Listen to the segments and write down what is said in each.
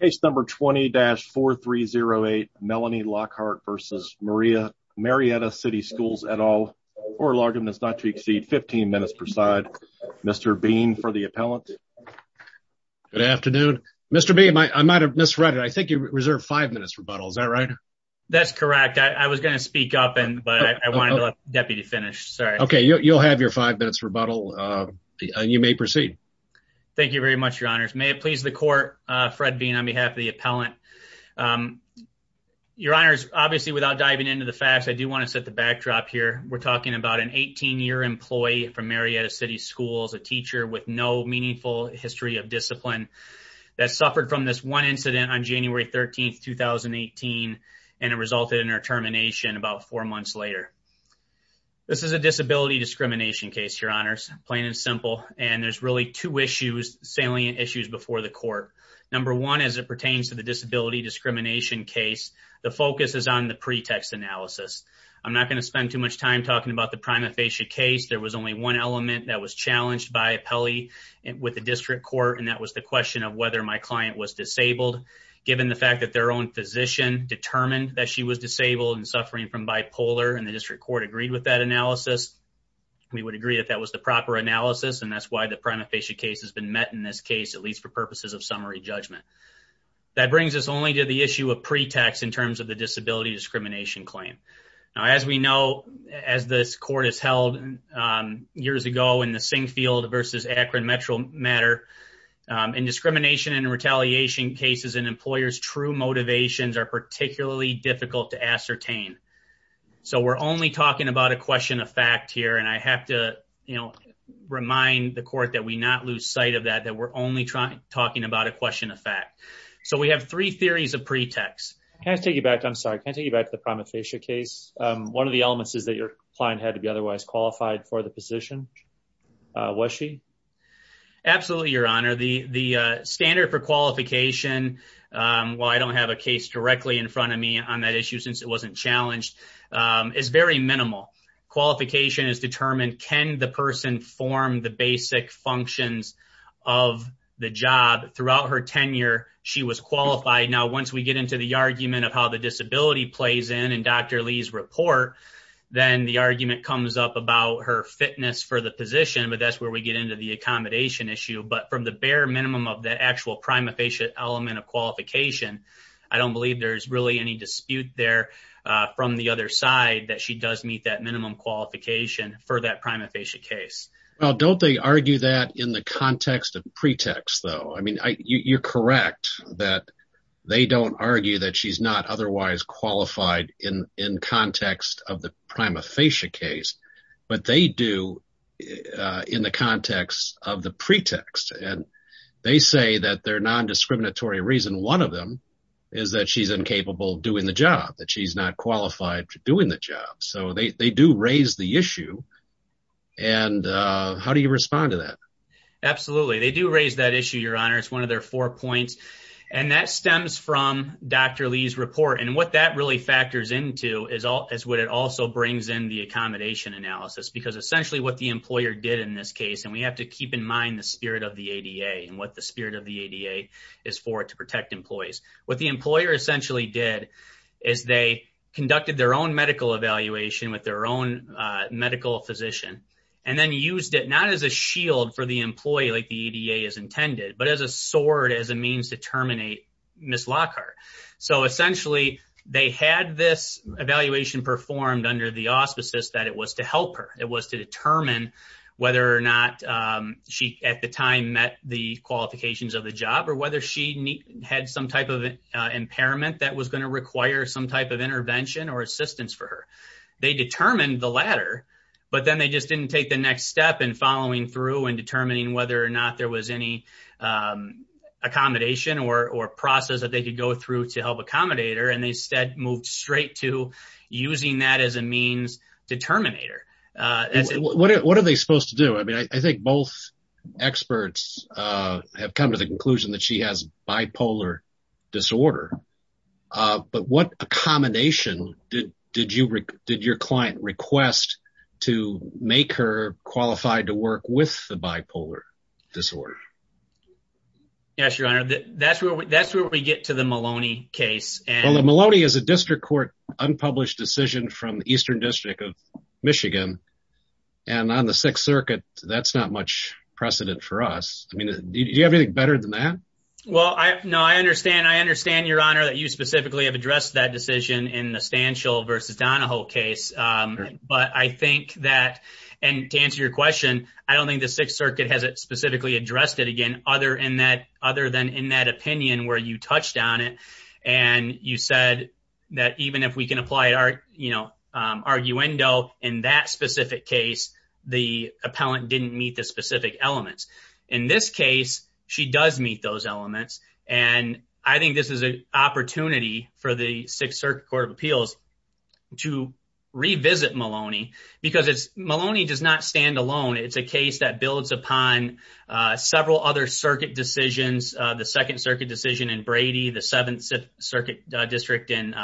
Case number 20-4308 Melanie Lockhart versus Maria Marietta City Schools et al. Oral argument is not to exceed 15 minutes per side. Mr. Bean for the appellant. Good afternoon. Mr. Bean, I might have misread it. I think you reserved five minutes rebuttal. Is that right? That's correct. I was going to speak up and but I wanted to let the deputy finish. Sorry. Okay, you'll have your five minutes rebuttal. You may proceed. Thank you very much, your honors. May it please the court, Fred Bean, on behalf of the appellant. Your honors, obviously without diving into the facts, I do want to set the backdrop here. We're talking about an 18-year employee from Marietta City Schools, a teacher with no meaningful history of discipline that suffered from this one incident on January 13, 2018, and it resulted in her termination about four months later. This is a disability discrimination case, your honors, plain and simple, and there's really two issues, salient issues before the court. Number one, as it pertains to the disability discrimination case, the focus is on the pretext analysis. I'm not going to spend too much time talking about the prima facie case. There was only one element that was challenged by appellee with the district court, and that was the question of whether my client was disabled. Given the fact that their own physician determined that she was disabled and suffering from bipolar and the district court agreed with that analysis, we would agree that that was the proper analysis, and that's why the prima facie case has been met in this case, at least for purposes of summary judgment. That brings us only to the issue of pretext in terms of the disability discrimination claim. Now, as we know, as this court has held years ago in the Singfield versus Akron Metro matter, in discrimination and retaliation cases, an employer's true motivations are particularly difficult to ascertain. So we're only talking about a question of fact here, and I have to remind the court that we not lose sight of that, that we're only talking about a question of fact. So we have three theories of pretext. Can I take you back? I'm sorry. Can I take you back to the prima facie case? One of the elements is that your client had to be otherwise qualified for the position. Was she? Absolutely, your honor. The standard for qualification, well, I don't have a case directly in front of me on that issue since it wasn't challenged, is very minimal. Qualification is determined, can the person form the basic functions of the job throughout her tenure, she was qualified. Now, once we get into the argument of how the disability plays in and Dr. Lee's report, then the argument comes up about her fitness for the position, but that's where we get into the accommodation issue. But from the bare minimum of that actual prima facie element of qualification, I don't believe there's really any dispute there from the other side that she does meet that minimum qualification for that prima facie case. Well, don't they argue that in the context of pretext though? I mean, you're correct that they don't argue that she's not otherwise qualified in context of the prima facie case, but they do in the context of the pretext. And they say that their non-discriminatory reason, one of them is that she's incapable of doing the job, that she's not qualified to doing the job. So they do raise the issue. And how do you respond to that? Absolutely. They do raise that issue, your honor. It's one of their four points. And that stems from Dr. Lee's report. And what that factors into is what it also brings in the accommodation analysis. Because essentially what the employer did in this case, and we have to keep in mind the spirit of the ADA and what the spirit of the ADA is for to protect employees. What the employer essentially did is they conducted their own medical evaluation with their own medical physician, and then used it not as a shield for the employee like the ADA is intended, but as a sword, as a means to terminate Ms. Lockhart. So essentially they had this evaluation performed under the auspices that it was to help her. It was to determine whether or not she at the time met the qualifications of the job, or whether she had some type of impairment that was going to require some type of intervention or assistance for her. They determined the latter, but then they just didn't take the next step in following through and determining whether or not there was any accommodation or process that they could go through to help accommodate her. And they instead moved straight to using that as a means to terminate her. What are they supposed to do? I mean, I think both experts have come to the conclusion that she has bipolar disorder. But what accommodation did your client request to make her qualified to work with the bipolar disorder? Yes, your honor. That's where we get to the Maloney case. Well, the Maloney is a district court unpublished decision from the Eastern District of Michigan. And on the Sixth Circuit, that's not much precedent for us. I mean, do you have anything better than that? Well, no, I understand. I understand, your honor, that you specifically have addressed that decision in the Stanchell versus Donahoe case. But I think that, and to other than in that opinion where you touched on it, and you said that even if we can apply arguendo in that specific case, the appellant didn't meet the specific elements. In this case, she does meet those elements. And I think this is an opportunity for the Sixth Circuit Court of Appeals to revisit Maloney because Maloney does not stand alone. It's a case that builds upon several other circuit decisions, the Second Circuit decision in Brady, the Seventh Circuit district in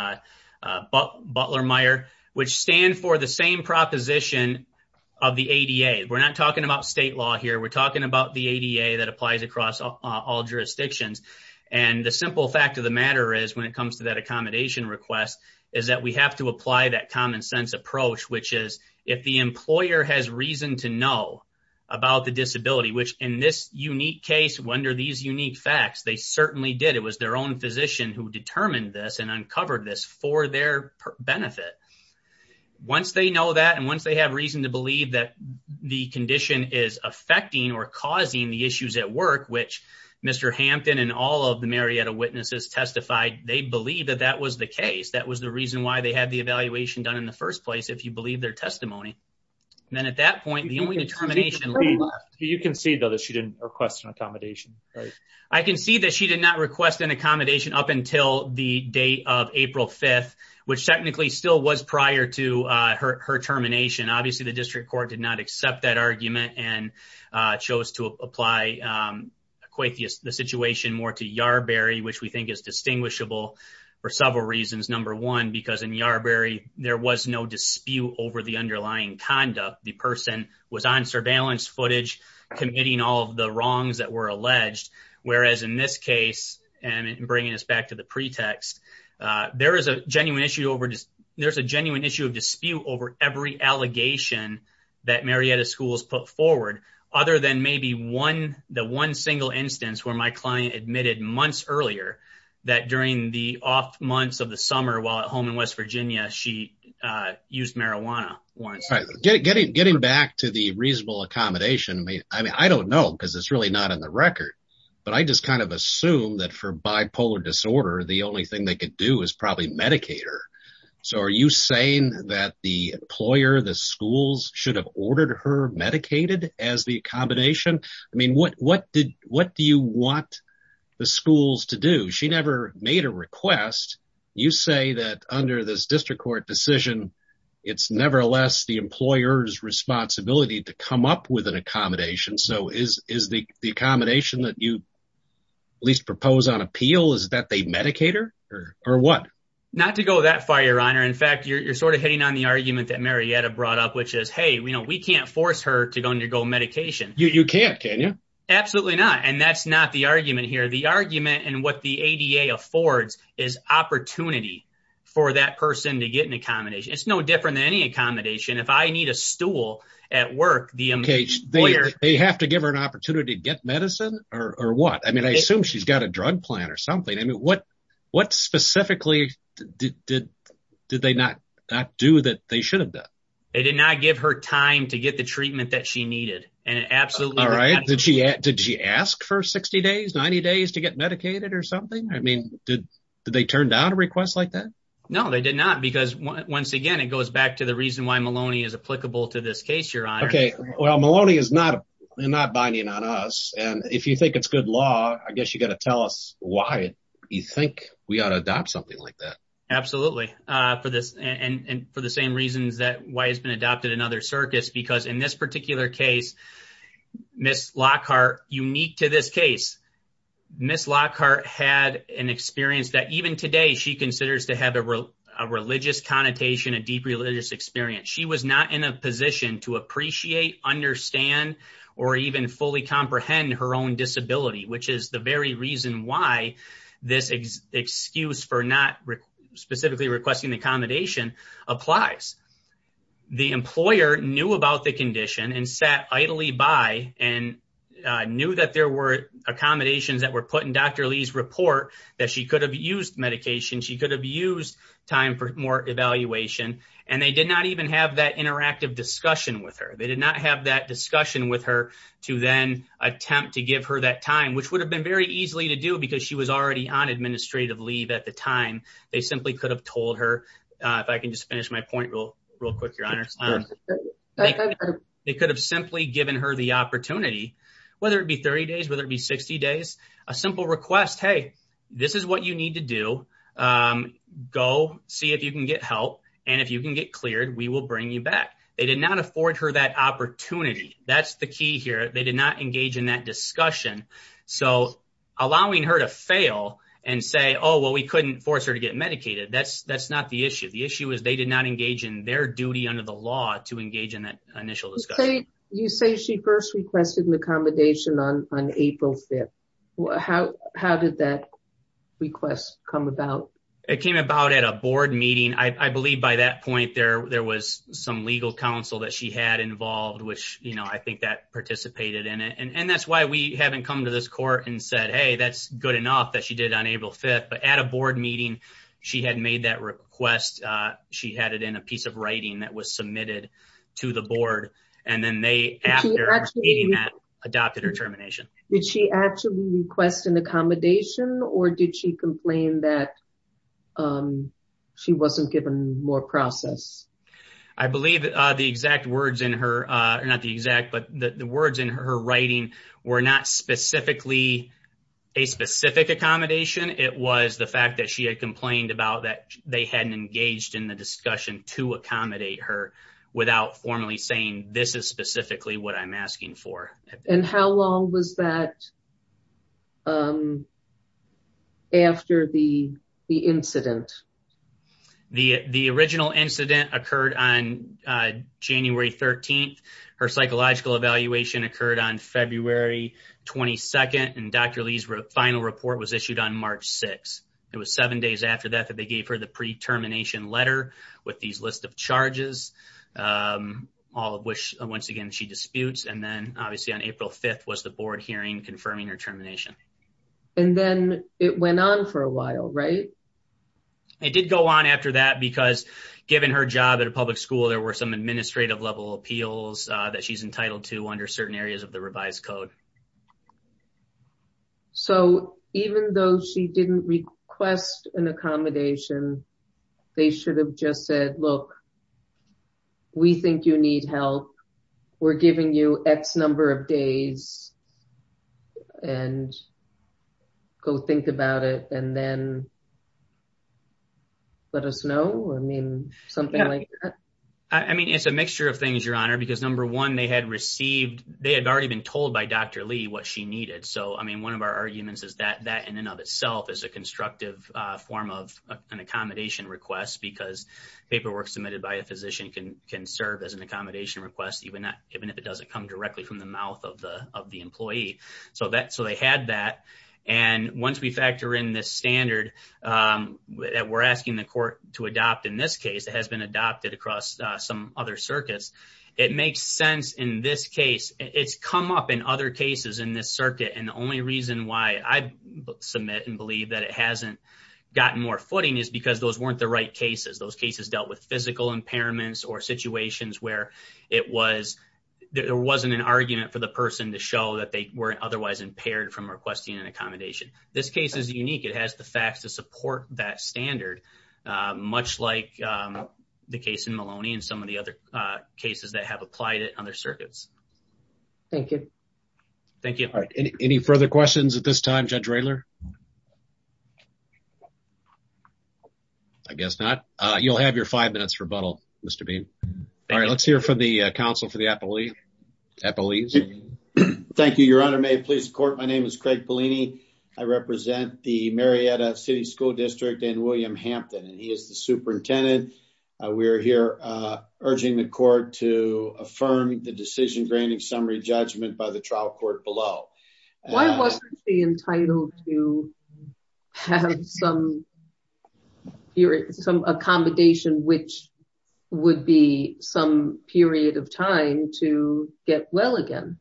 Butler-Meyer, which stand for the same proposition of the ADA. We're not talking about state law here. We're talking about the ADA that applies across all jurisdictions. And the simple fact of the matter is, when it comes to that accommodation request, is that we have to apply that common sense approach, which is if the employer has reason to know about the disability, which in this unique case, under these unique facts, they certainly did. It was their own physician who determined this and uncovered this for their benefit. Once they know that, and once they have reason to believe that the condition is affecting or causing the issues at work, which Mr. Hampton and all of the Marietta witnesses testified, they believe that that was the case. That was the reason why they had the evaluation done in the first place, if you believe their testimony. And then at that point, the only determination left. You can see though that she didn't request an accommodation, right? I can see that she did not request an accommodation up until the date of April 5th, which technically still was prior to her termination. Obviously, the district court did not accept that argument and chose to apply quite the situation more to Yarberry, which we think is distinguishable for several reasons. Number one, because in Yarberry, there was no dispute over the underlying conduct. The person was on surveillance footage, committing all of the wrongs that were alleged. Whereas in this case, and bringing us back to the pretext, there is a genuine issue of dispute over every allegation that Marietta Schools put forward, other than maybe the one single instance where my client admitted months earlier that during the off months of the summer while at home in West Virginia, she used marijuana. Getting back to the reasonable accommodation, I mean, I don't know because it's really not on the record. But I just kind of assume that for bipolar disorder, the only thing they could do is probably medicate her. So are you saying that the employer, the schools should have ordered her as the accommodation? I mean, what do you want the schools to do? She never made a request. You say that under this district court decision, it's nevertheless the employer's responsibility to come up with an accommodation. So is the accommodation that you at least propose on appeal is that they medicate her or what? Not to go that far, your honor. In fact, you're sort of hitting on the argument that Marietta brought up, which is, hey, we can't force her to undergo medication. You can't, can you? Absolutely not. And that's not the argument here. The argument and what the ADA affords is opportunity for that person to get an accommodation. It's no different than any accommodation. If I need a stool at work, they have to give her an opportunity to get medicine or what? I mean, I assume she's got a drug plan or something. I mean, what specifically did they not do that they should have done? They did not give her time to get the treatment that she needed. All right. Did she ask for 60 days, 90 days to get medicated or something? I mean, did they turn down a request like that? No, they did not. Because once again, it goes back to the reason why Maloney is applicable to this case, your honor. Okay. Well, Maloney is not binding on us. And if you think it's good law, I guess you got to tell us why you think we adopt something like that. Absolutely. And for the same reasons that why it's been adopted in other circuits, because in this particular case, Ms. Lockhart, unique to this case, Ms. Lockhart had an experience that even today she considers to have a religious connotation, a deep religious experience. She was not in a position to appreciate, understand, or even fully comprehend her own disability, which is the very reason why this excuse for not specifically requesting the accommodation applies. The employer knew about the condition and sat idly by and knew that there were accommodations that were put in Dr. Lee's report that she could have used medication. She could have used time for more evaluation. And they did not even have that to then attempt to give her that time, which would have been very easily to do because she was already on administrative leave at the time. They simply could have told her, if I can just finish my point real quick, your honor, they could have simply given her the opportunity, whether it be 30 days, whether it be 60 days, a simple request, hey, this is what you need to do. Go see if you can get help. And if you can get cleared, we will bring you back. They did not afford her that key here. They did not engage in that discussion. So allowing her to fail and say, oh, well, we couldn't force her to get medicated. That's not the issue. The issue is they did not engage in their duty under the law to engage in that initial discussion. You say she first requested an accommodation on April 5th. How did that request come about? It came about at a board meeting. I believe by that point there was some legal counsel that she had involved, which I think that participated in it. And that's why we haven't come to this court and said, hey, that's good enough that she did on April 5th. But at a board meeting, she had made that request. She had it in a piece of writing that was submitted to the board. And then they, after meeting that, adopted her termination. Did she actually request an accommodation or did she complain that she wasn't given more process? I believe the exact words in her, not the exact, but the words in her writing were not specifically a specific accommodation. It was the fact that she had complained about that they hadn't engaged in the discussion to accommodate her without formally saying this is specifically what I'm asking for. And how long was that after the incident? The original incident occurred on January 13th. Her psychological evaluation occurred on February 22nd. And Dr. Lee's final report was issued on March 6th. It was seven days after that that gave her the pre-termination letter with these list of charges, all of which, once again, she disputes. And then obviously on April 5th was the board hearing confirming her termination. And then it went on for a while, right? It did go on after that because given her job at a public school, there were some administrative level appeals that she's entitled to under certain of the revised code. So even though she didn't request an accommodation, they should have just said, look, we think you need help. We're giving you X number of days and go think about it and then let us know. I mean, something like that. I mean, it's a mixture of things, Your Honor, because number one, they had received, they had already been told by Dr. Lee what she needed. So, I mean, one of our arguments is that in and of itself is a constructive form of an accommodation request because paperwork submitted by a physician can serve as an accommodation request, even if it doesn't come directly from the mouth of the employee. So they had that. And once we factor in this standard that we're asking the court to adopt in this case, it has been adopted across some other circuits. It makes sense in this case. It's come up in other cases in this circuit. And the only reason why I submit and believe that it hasn't gotten more footing is because those weren't the right cases. Those cases dealt with physical impairments or situations where it was, there wasn't an argument for the person to show that they were otherwise impaired from requesting an accommodation. This case is unique. It has the facts to support that standard, much like the case in Maloney and some of the other cases that have applied it on their circuits. Thank you. Thank you. All right. Any further questions at this time, Judge Raylor? I guess not. You'll have your five minutes rebuttal, Mr. Beam. All right. Let's hear from the counsel for the appellees. Thank you, Your Honor. May it please the court. My name is Craig City School District and William Hampton, and he is the superintendent. We're here urging the court to affirm the decision-graining summary judgment by the trial court below. Why wasn't he entitled to have some period, some accommodation, which would be some period of time to get well again?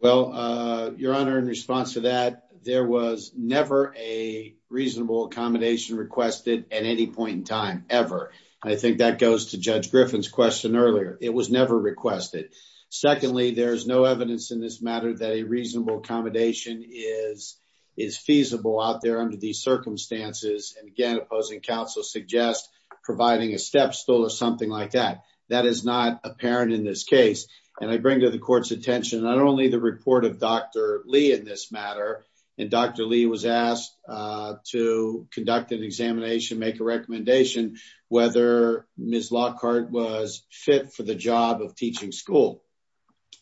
Well, Your Honor, in response to that, there was never a reasonable accommodation requested at any point in time, ever. I think that goes to Judge Griffin's question earlier. It was never requested. Secondly, there is no evidence in this matter that a reasonable accommodation is feasible out there under these circumstances. And again, opposing counsel suggests providing a not only the report of Dr. Lee in this matter, and Dr. Lee was asked to conduct an examination, make a recommendation, whether Ms. Lockhart was fit for the job of teaching school.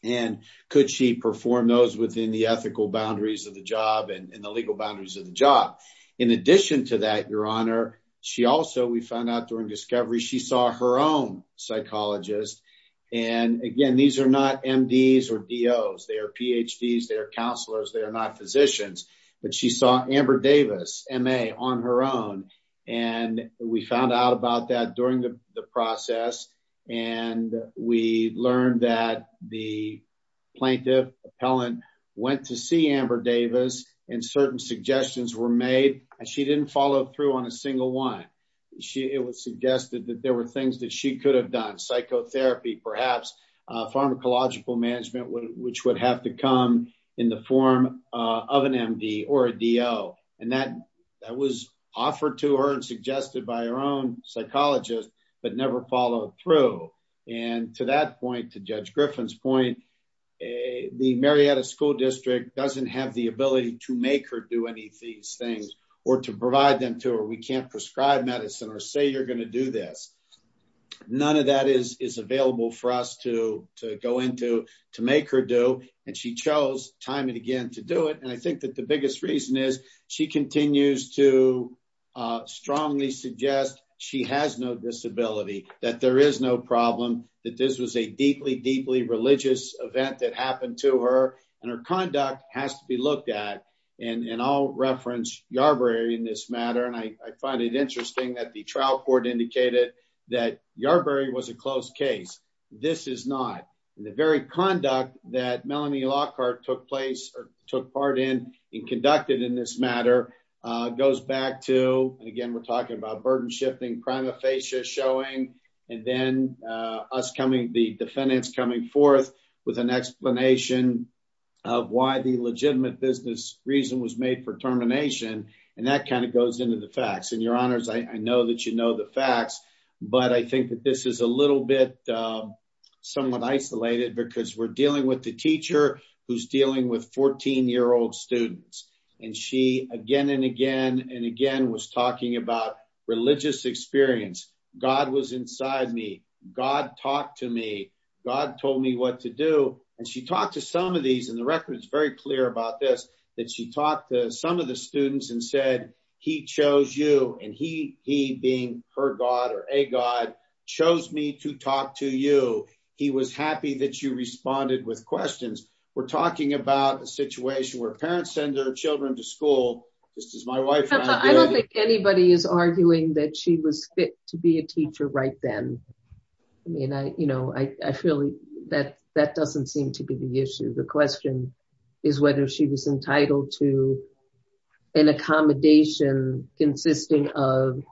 And could she perform those within the ethical boundaries of the job and the legal boundaries of the job? In addition to that, Your Honor, she also, we found out during discovery, she saw her own psychologist. And again, these are not MDs or DOs. They are PhDs. They are counselors. They are not physicians. But she saw Amber Davis, MA, on her own. And we found out about that during the process, and we learned that the plaintiff, appellant, went to see Amber Davis, and certain suggestions were made, and she didn't follow through on a single one. It was suggested that there were things that she could have done, psychotherapy, perhaps pharmacological management, which would have to come in the form of an MD or a DO. And that was offered to her and suggested by her own psychologist, but never followed through. And to that point, to Judge Griffin's point, the Marietta School District doesn't have the ability to make her do any of these things or to provide them to her. We can't prescribe medicine or say you're going to do this. None of that is available for us to go into to make her do, and she chose time and again to do it. And I think that the biggest reason is she continues to strongly suggest she has no disability, that there is no problem, that this was a deeply, deeply religious event that happened to her, and her conduct has to be looked at. And I'll reference Yarbrough in this matter, and I find it interesting that the trial court indicated that Yarbrough was a closed case. This is not. And the very conduct that Melanie Lockhart took place or took part in and conducted in this matter goes back to, and again we're talking about burden shifting, prima facie showing, and then us coming, the defendants coming forth with an explanation of why the legitimate business reason was made for termination, and that kind of goes into the facts. And your honors, I know that you know the facts, but I think that this is a little bit somewhat isolated because we're dealing with the teacher who's dealing with 14-year-old students, and she again and again and again was talking about religious experience. God was inside me. God talked to me. God told me what to do. And she talked to some of these, and the record is very clear about this, that she talked to some of the students and said, he chose you, and he being her God or a God, chose me to talk to you. He was happy that you responded with questions. We're talking about a situation where parents send their children to school, just as my wife. I don't think anybody is arguing that she was fit to be a teacher right then. I mean, I feel that that doesn't seem to be the issue. The question is whether she was entitled to an accommodation consisting of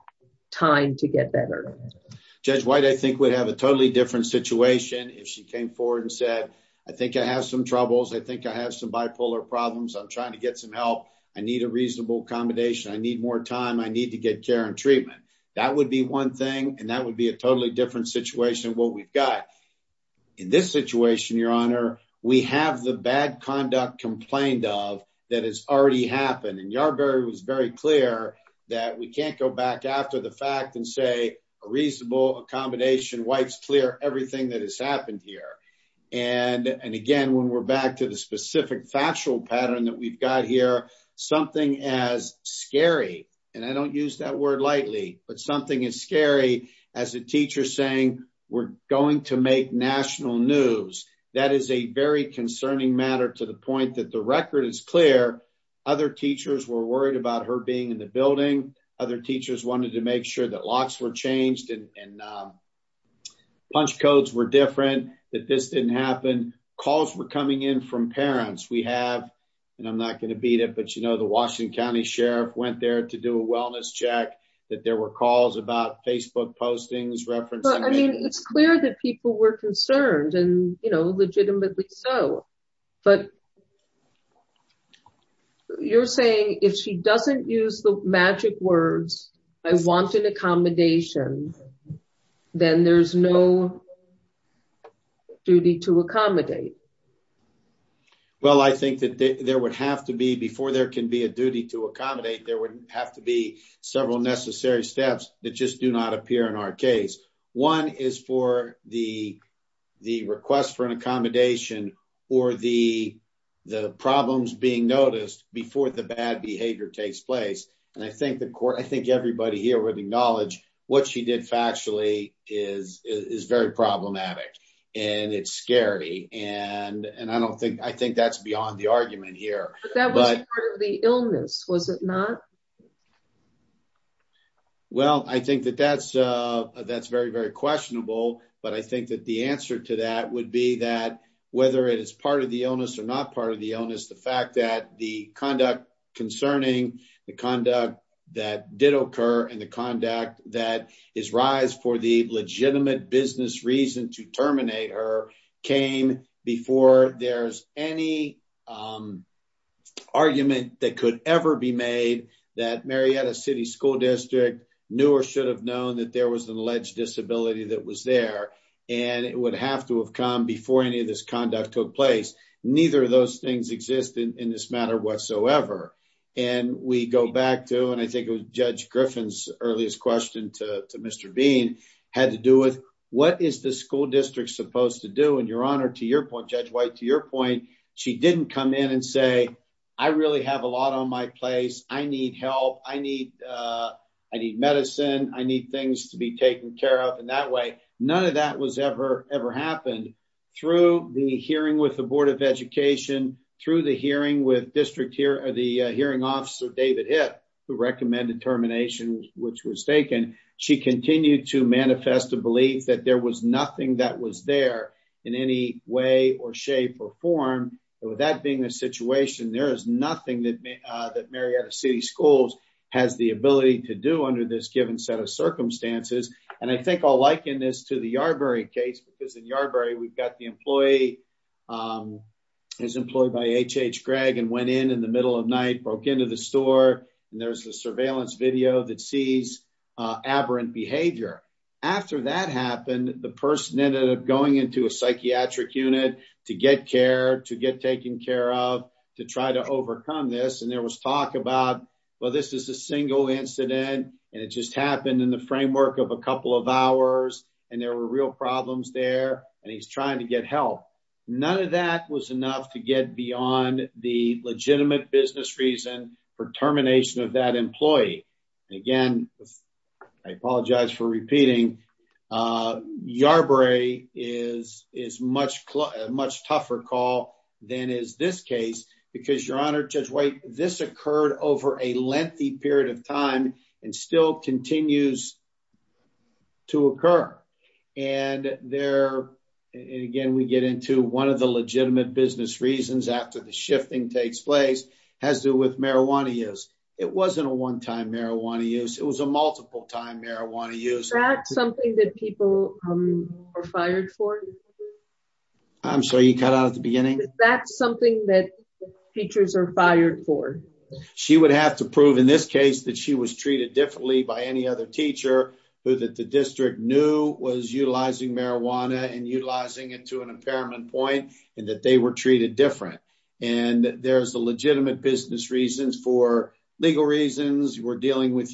time to get better. Judge White, I think we'd have a totally different situation if she came forward and said, I think I have some troubles. I think I have some bipolar problems. I'm trying to get some help. I need a reasonable accommodation. I need more time. I need to get care and treatment. That would be one thing, and that would be a totally different situation of what we've got. In this situation, your honor, we have the bad conduct complained of that has already happened, and Yardberry was very clear that we can't go back after the fact and say a reasonable accommodation wipes clear everything that has happened here. And again, when we're back to the specific factual pattern that we've got here, something as scary, and I don't use that word lightly, but something is scary as a teacher saying we're going to make national news. That is a very concerning matter to the point that the record is clear. Other teachers were worried about her being in the building. Other teachers wanted to make sure that locks were changed and punch codes were different, that this didn't happen. Calls were coming in from parents. We have, and I'm not going to beat it, but you know, the Washington County Sheriff went there to do a wellness check, that there were calls about Facebook postings, references. I mean, it's clear that people were concerned and, you know, accommodations, then there's no duty to accommodate. Well, I think that there would have to be, before there can be a duty to accommodate, there would have to be several necessary steps that just do not appear in our case. One is for the request for an accommodation or the problems being noticed before the bad behavior takes place, and I think the court, I think everybody here would acknowledge what she did factually is very problematic, and it's scary, and I don't think, I think that's beyond the argument here. But that was part of the illness, was it not? Well, I think that that's very, very questionable, but I think that the answer to that would be that whether it is part of the illness or not part of the illness, the fact that the conduct concerning, the conduct that did occur, and the conduct that is rise for the legitimate business reason to terminate her came before there's any argument that could ever be made that Marietta City School District knew or should have known that there was an alleged disability that was there, and it would have to have come before any of this conduct took place. Neither of those things exist in this matter whatsoever, and we go back to, and I think it was Judge Griffin's earliest question to Mr. Bean had to do with what is the school district supposed to do, and your honor, to your point, Judge White, to your point, she didn't come in and say, I really have a lot on my place, I need help, I need, I need medicine, I need things to be taken care of, and that way, none of that was ever, ever happened. Through the hearing with the Board of Education, through the hearing with district here, the hearing officer, David Hitt, who recommended termination, which was taken, she continued to manifest a belief that there was nothing that was there in any way or shape or form, and with that being the situation, there is nothing that Marietta City Schools has the ability to do under this given set of circumstances, and I think I'll liken this to the Yarberry case, because in Yarberry, we've got the employee, is employed by H.H. Gregg, and went in in the middle of night, broke into the store, and there's a surveillance video that sees aberrant behavior. After that happened, the person ended up going into a psychiatric unit to get care, to get taken care of, to try to overcome this, and there was talk about, well, this is a single incident, and it just happened in the framework of a couple of hours, and there were real problems there, and he's trying to get help. None of that was enough to get beyond the legitimate business reason for termination of that employee. Again, I apologize for repeating, Yarberry is a much tougher call than is this case, because your honor, Judge White, this occurred over a lengthy period of time and still continues to occur, and there, and again, we get into one of the legitimate business reasons after the shifting takes place, has to do with marijuana use. It wasn't a one-time marijuana use, it was a multiple-time marijuana use. Is that something that people are fired for? I'm sorry, you cut out at the beginning? Is that something that teachers are fired for? She would have to prove, in this case, that she was treated differently by any other teacher who that the district knew was utilizing marijuana and utilizing it to an impairment point, and that they were treated different, and there's a legitimate business reason for legal reasons. We're dealing with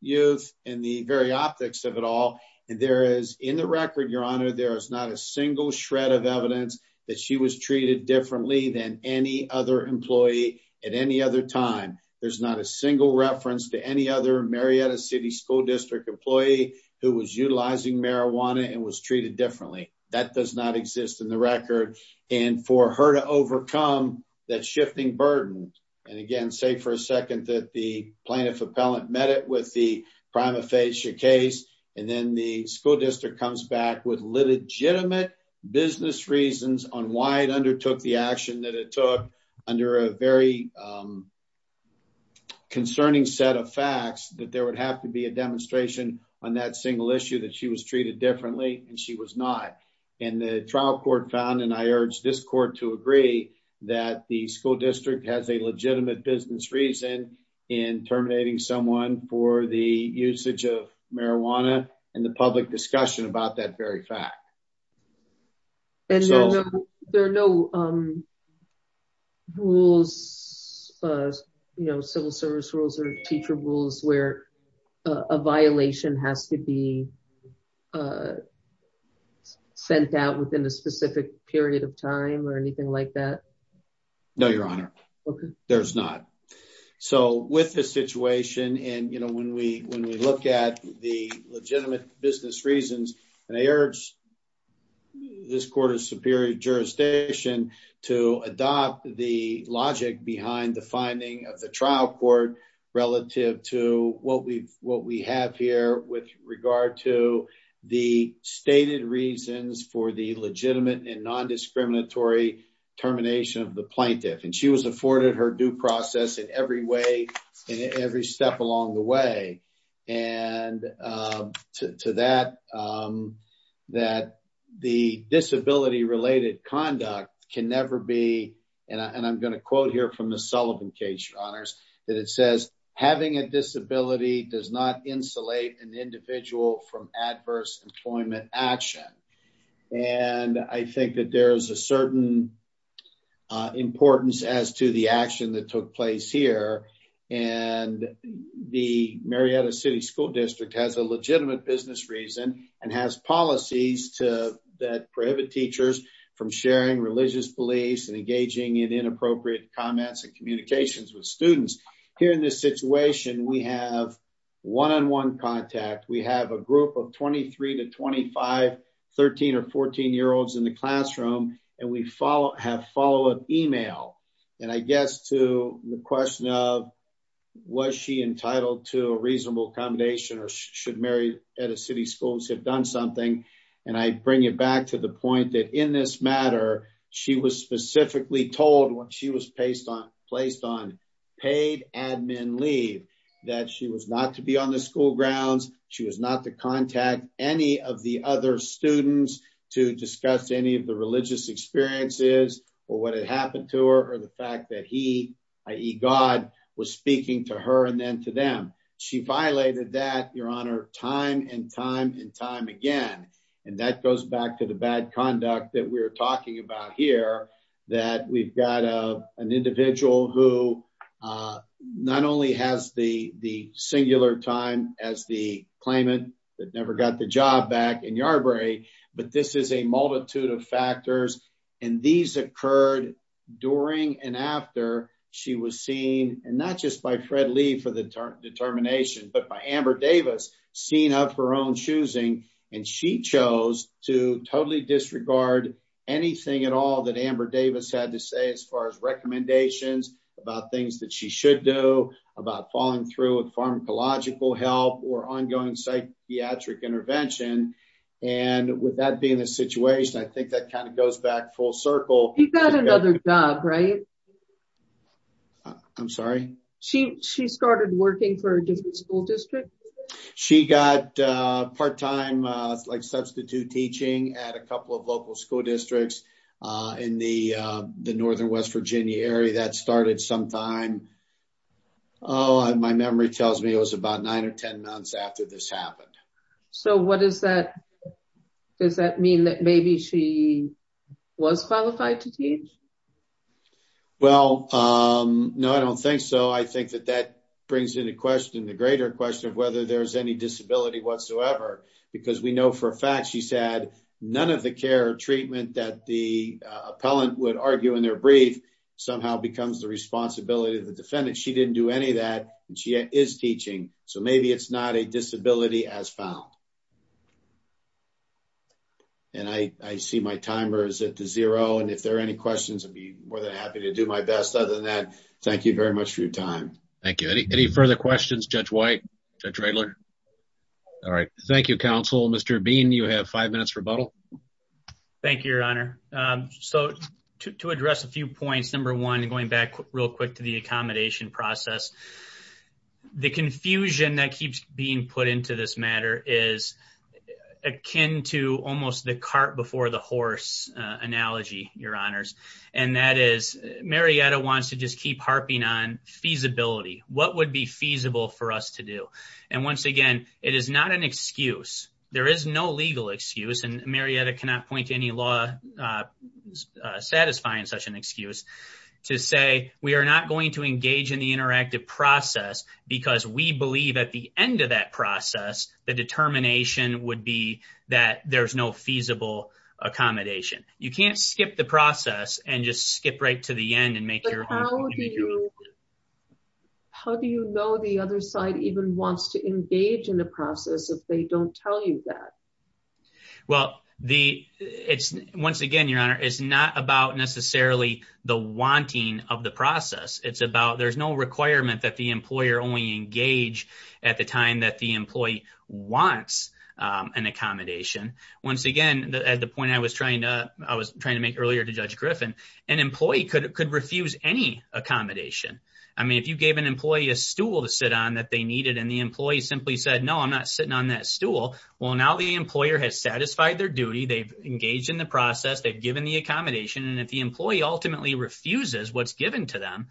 youth and the very optics of it all, and there is, in the record, your honor, there is not a single shred of evidence that she was treated differently than any other employee at any other time. There's not a single reference to any other Marietta City School District employee who was utilizing marijuana and was treated differently. That does not exist in the record, and for her to overcome that shifting burden, and again, say for a second that the plaintiff appellant met it with the prima facie case, and then the school district comes back with legitimate business reasons on why it undertook the action that it took under a very concerning set of facts that there would have to be a demonstration on that single issue that she was treated differently, and she was not. And the trial court found, and I urge this court to agree, that the school district has a legitimate business reason in terminating someone for the usage of marijuana and the public discussion about that very fact. And there are no rules you know, civil service rules or teacher rules where a violation has to be sent out within a specific period of time or anything like that? No, your honor, there's not. So with this situation, and you know, when we look at the legitimate business reasons, and I urge this court of superior jurisdiction to adopt the logic behind the finding of the trial court relative to what we have here with regard to the stated reasons for the legitimate and non-discriminatory termination of the plaintiff, and she was afforded her due process in every way, in every step along the way, and to that, that the disability-related conduct can never be, and I'm going to quote here from the Sullivan case, your honors, that it says, having a disability does not insulate an individual from adverse employment action. And I think that there is a certain importance as to the action that took place here, and the Marietta City School District has a legitimate business reason and has policies that prohibit teachers from sharing religious beliefs and engaging in inappropriate comments and communications with students. Here in this situation, we have one-on-one contact, we have a group of 23 to 25, 13 or 14-year-olds in the classroom, and we have follow-up email, and I guess to the question of was she entitled to a reasonable accommodation or should Marietta City Schools have done something, and I bring it back to the point that in this matter, she was specifically told when she was placed on paid admin leave that she was not to be on the school grounds, she was not to contact any of the other students to discuss any of the religious experiences or what had happened to her or the fact that he, i.e. God, was speaking to her and to them. She violated that, Your Honor, time and time and time again, and that goes back to the bad conduct that we're talking about here, that we've got an individual who not only has the singular time as the claimant that never got the job back in Yarbrough, but this is a multitude of determination, but by Amber Davis, seeing of her own choosing, and she chose to totally disregard anything at all that Amber Davis had to say as far as recommendations about things that she should do about falling through with pharmacological help or ongoing psychiatric intervention, and with that being the situation, I think that kind of goes back full circle. She got another job, right? I'm sorry? She started working for a different school district? She got part-time substitute teaching at a couple of local school districts in the northern West Virginia area. That started sometime, oh, my memory tells me it was about nine or ten months after this happened. So what does that, does that mean that maybe she was qualified to teach? Well, no, I don't think so. I think that that brings into question the greater question of whether there's any disability whatsoever, because we know for a fact she's had none of the care or treatment that the appellant would argue in their brief somehow becomes the responsibility of the appellant. And I see my timer is at zero, and if there are any questions, I'd be more than happy to do my best. Other than that, thank you very much for your time. Thank you. Any further questions, Judge White? Judge Raegler? All right. Thank you, counsel. Mr. Bean, you have five minutes for rebuttal. Thank you, your honor. So to address a few points, number one, going back real quick to the accommodation process, the confusion that keeps being put into this matter is akin to almost the cart before the horse analogy, your honors. And that is Marietta wants to just keep harping on feasibility. What would be feasible for us to do? And once again, it is not an excuse. There is no legal excuse, and Marietta cannot point to any law satisfying such an excuse to say we are not going to engage in the interactive process because we believe at the end of that process, the determination would be that there's no feasible accommodation. You can't skip the process and just skip right to the end and make your own. How do you know the other side even wants to engage in the process if they don't tell you that? Well, once again, your honor, it's not about necessarily the wanting of the process. It's about there's no requirement that the employer only engage at the time that the employee wants an accommodation. Once again, at the point I was trying to make earlier to Judge Griffin, an employee could refuse any accommodation. I mean, if you gave an employee a stool to sit on that they needed and the employee simply said, no, I'm not sitting on that stool. Well, now the employer has satisfied their duty. They've engaged in the process. They've given the accommodation. And if the employee ultimately refuses what's given to them,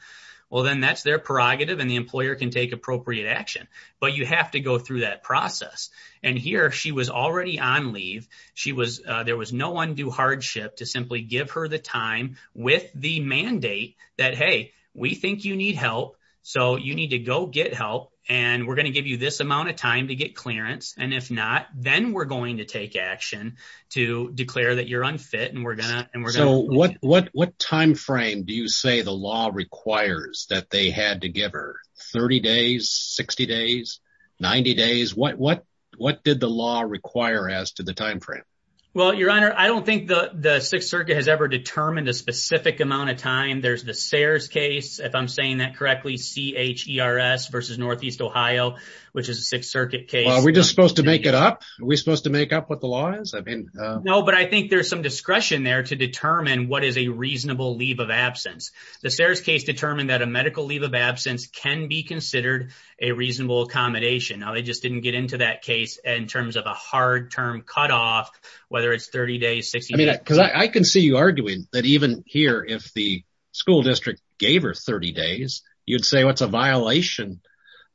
well, then that's their prerogative and the employer can take appropriate action. But you have to go through that process. And here she was already on leave. She was there was no undue hardship to simply give her the time with the mandate that, hey, we think you need help. So you need to go get help. And we're going to give you this amount of time to get clearance. And if not, then we're going to take action to declare that you're unfit. And we're going to and we're going to what what what time frame do you say the law requires that they had to give her 30 days, 60 days, 90 days? What what what did the law require as to the time frame? Well, Your Honor, I don't think the Sixth Circuit has ever determined a specific amount of time. There's the Sayers case, if I'm saying that correctly, C.H.E.R.S. versus Northeast Ohio, which is a Sixth Circuit case. Are we just supposed to make it up? Are we supposed to make up what the law is? I mean, no, but I think there's some discretion there to determine what is a reasonable leave of absence. The Sayers case determined that a medical leave of absence can be considered a reasonable accommodation. Now, they just didn't get into that case in terms of a hard term cutoff, whether it's 30 days, 60 days. I mean, because I can see you arguing that even here, if the school district gave her 30 days, you'd say what's a violation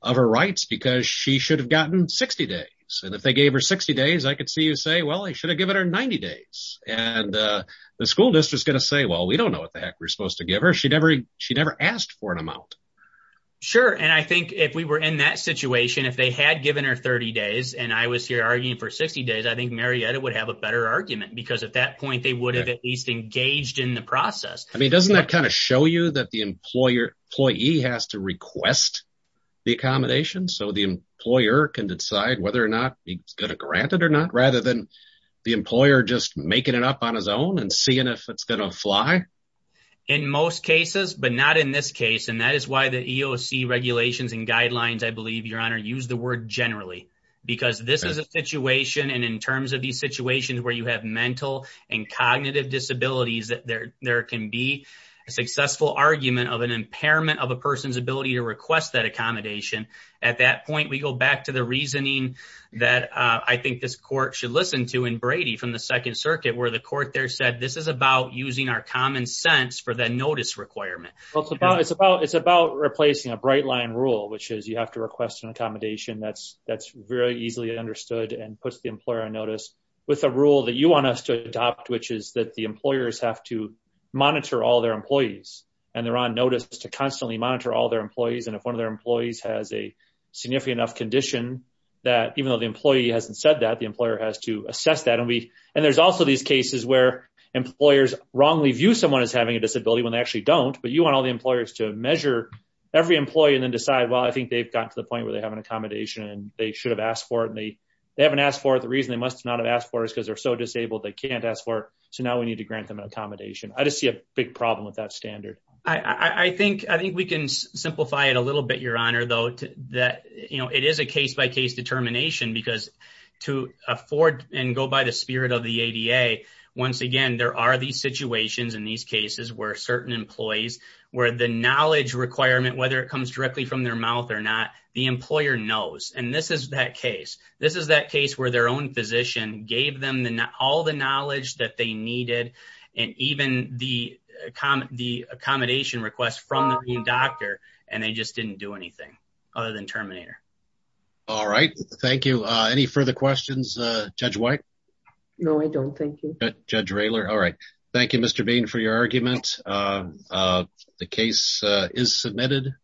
of her rights because she should have gotten 60 days. And if they gave her 60 days, I could see you say, well, I should have given her 90 days. And the school district is going to say, well, we don't know what the heck we're supposed to give her. She never she never asked for an amount. Sure. And I think if we were in that situation, if they had given her 30 days and I was here arguing for 60 days, I think Marietta would have a better argument because at that point they would have at least engaged in the process. I mean, doesn't that kind of show you that the employer has to request the accommodation so the employer can decide whether or not he's going to grant it or not, rather than the employer just making it up on his own and seeing if it's going to fly. In most cases, but not in this case. And that is why the EOC regulations and guidelines, I believe, your honor, use the word generally, because this is a situation. And in terms of these situations where you have mental and cognitive disabilities, there can be a successful argument of an impairment of a person's ability to request that accommodation. At that point, we go back to the reasoning that I think this court should listen to in Brady from the Second Circuit, where the court there said this is about using our common sense for the notice requirement. Well, it's about it's about it's about replacing a bright line rule, which is you have to request an accommodation that's that's very easily understood and puts the employer on notice with a rule that you want us to adopt, which is that the employers have to monitor all their employees. And they're on notice to constantly monitor all their employees. And if one of their employees has a significant enough condition, that even though the employee hasn't said that the employer has to assess that. And we and there's also these cases where employers wrongly view someone as having a disability when they actually don't, but you want all the employers to measure every employee and then decide, well, I think they've got to the point where they have an accommodation and they should have asked for it. And they haven't asked for it. The reason they must not have asked for is because they're so disabled, they can't ask for it. So now we need to grant them an accommodation. I just see a big problem with that standard. I think I think we can simplify it a little bit, Your Honor, though, that, you know, it is a case by case determination, because to afford and go by the spirit of the ADA. Once again, there are these situations in these cases where certain employees where the knowledge requirement, whether it comes directly from their mouth or not, the employer knows. And this is that case. This is that case where their own physician gave them all the knowledge that they needed and even the accommodation request from the doctor. And they just didn't do anything other than Terminator. All right. Thank you. Any further questions, Judge White? No, I don't. Thank you, Judge Raylor. All right. Thank you, Mr. Bain for your argument. The case is submitted.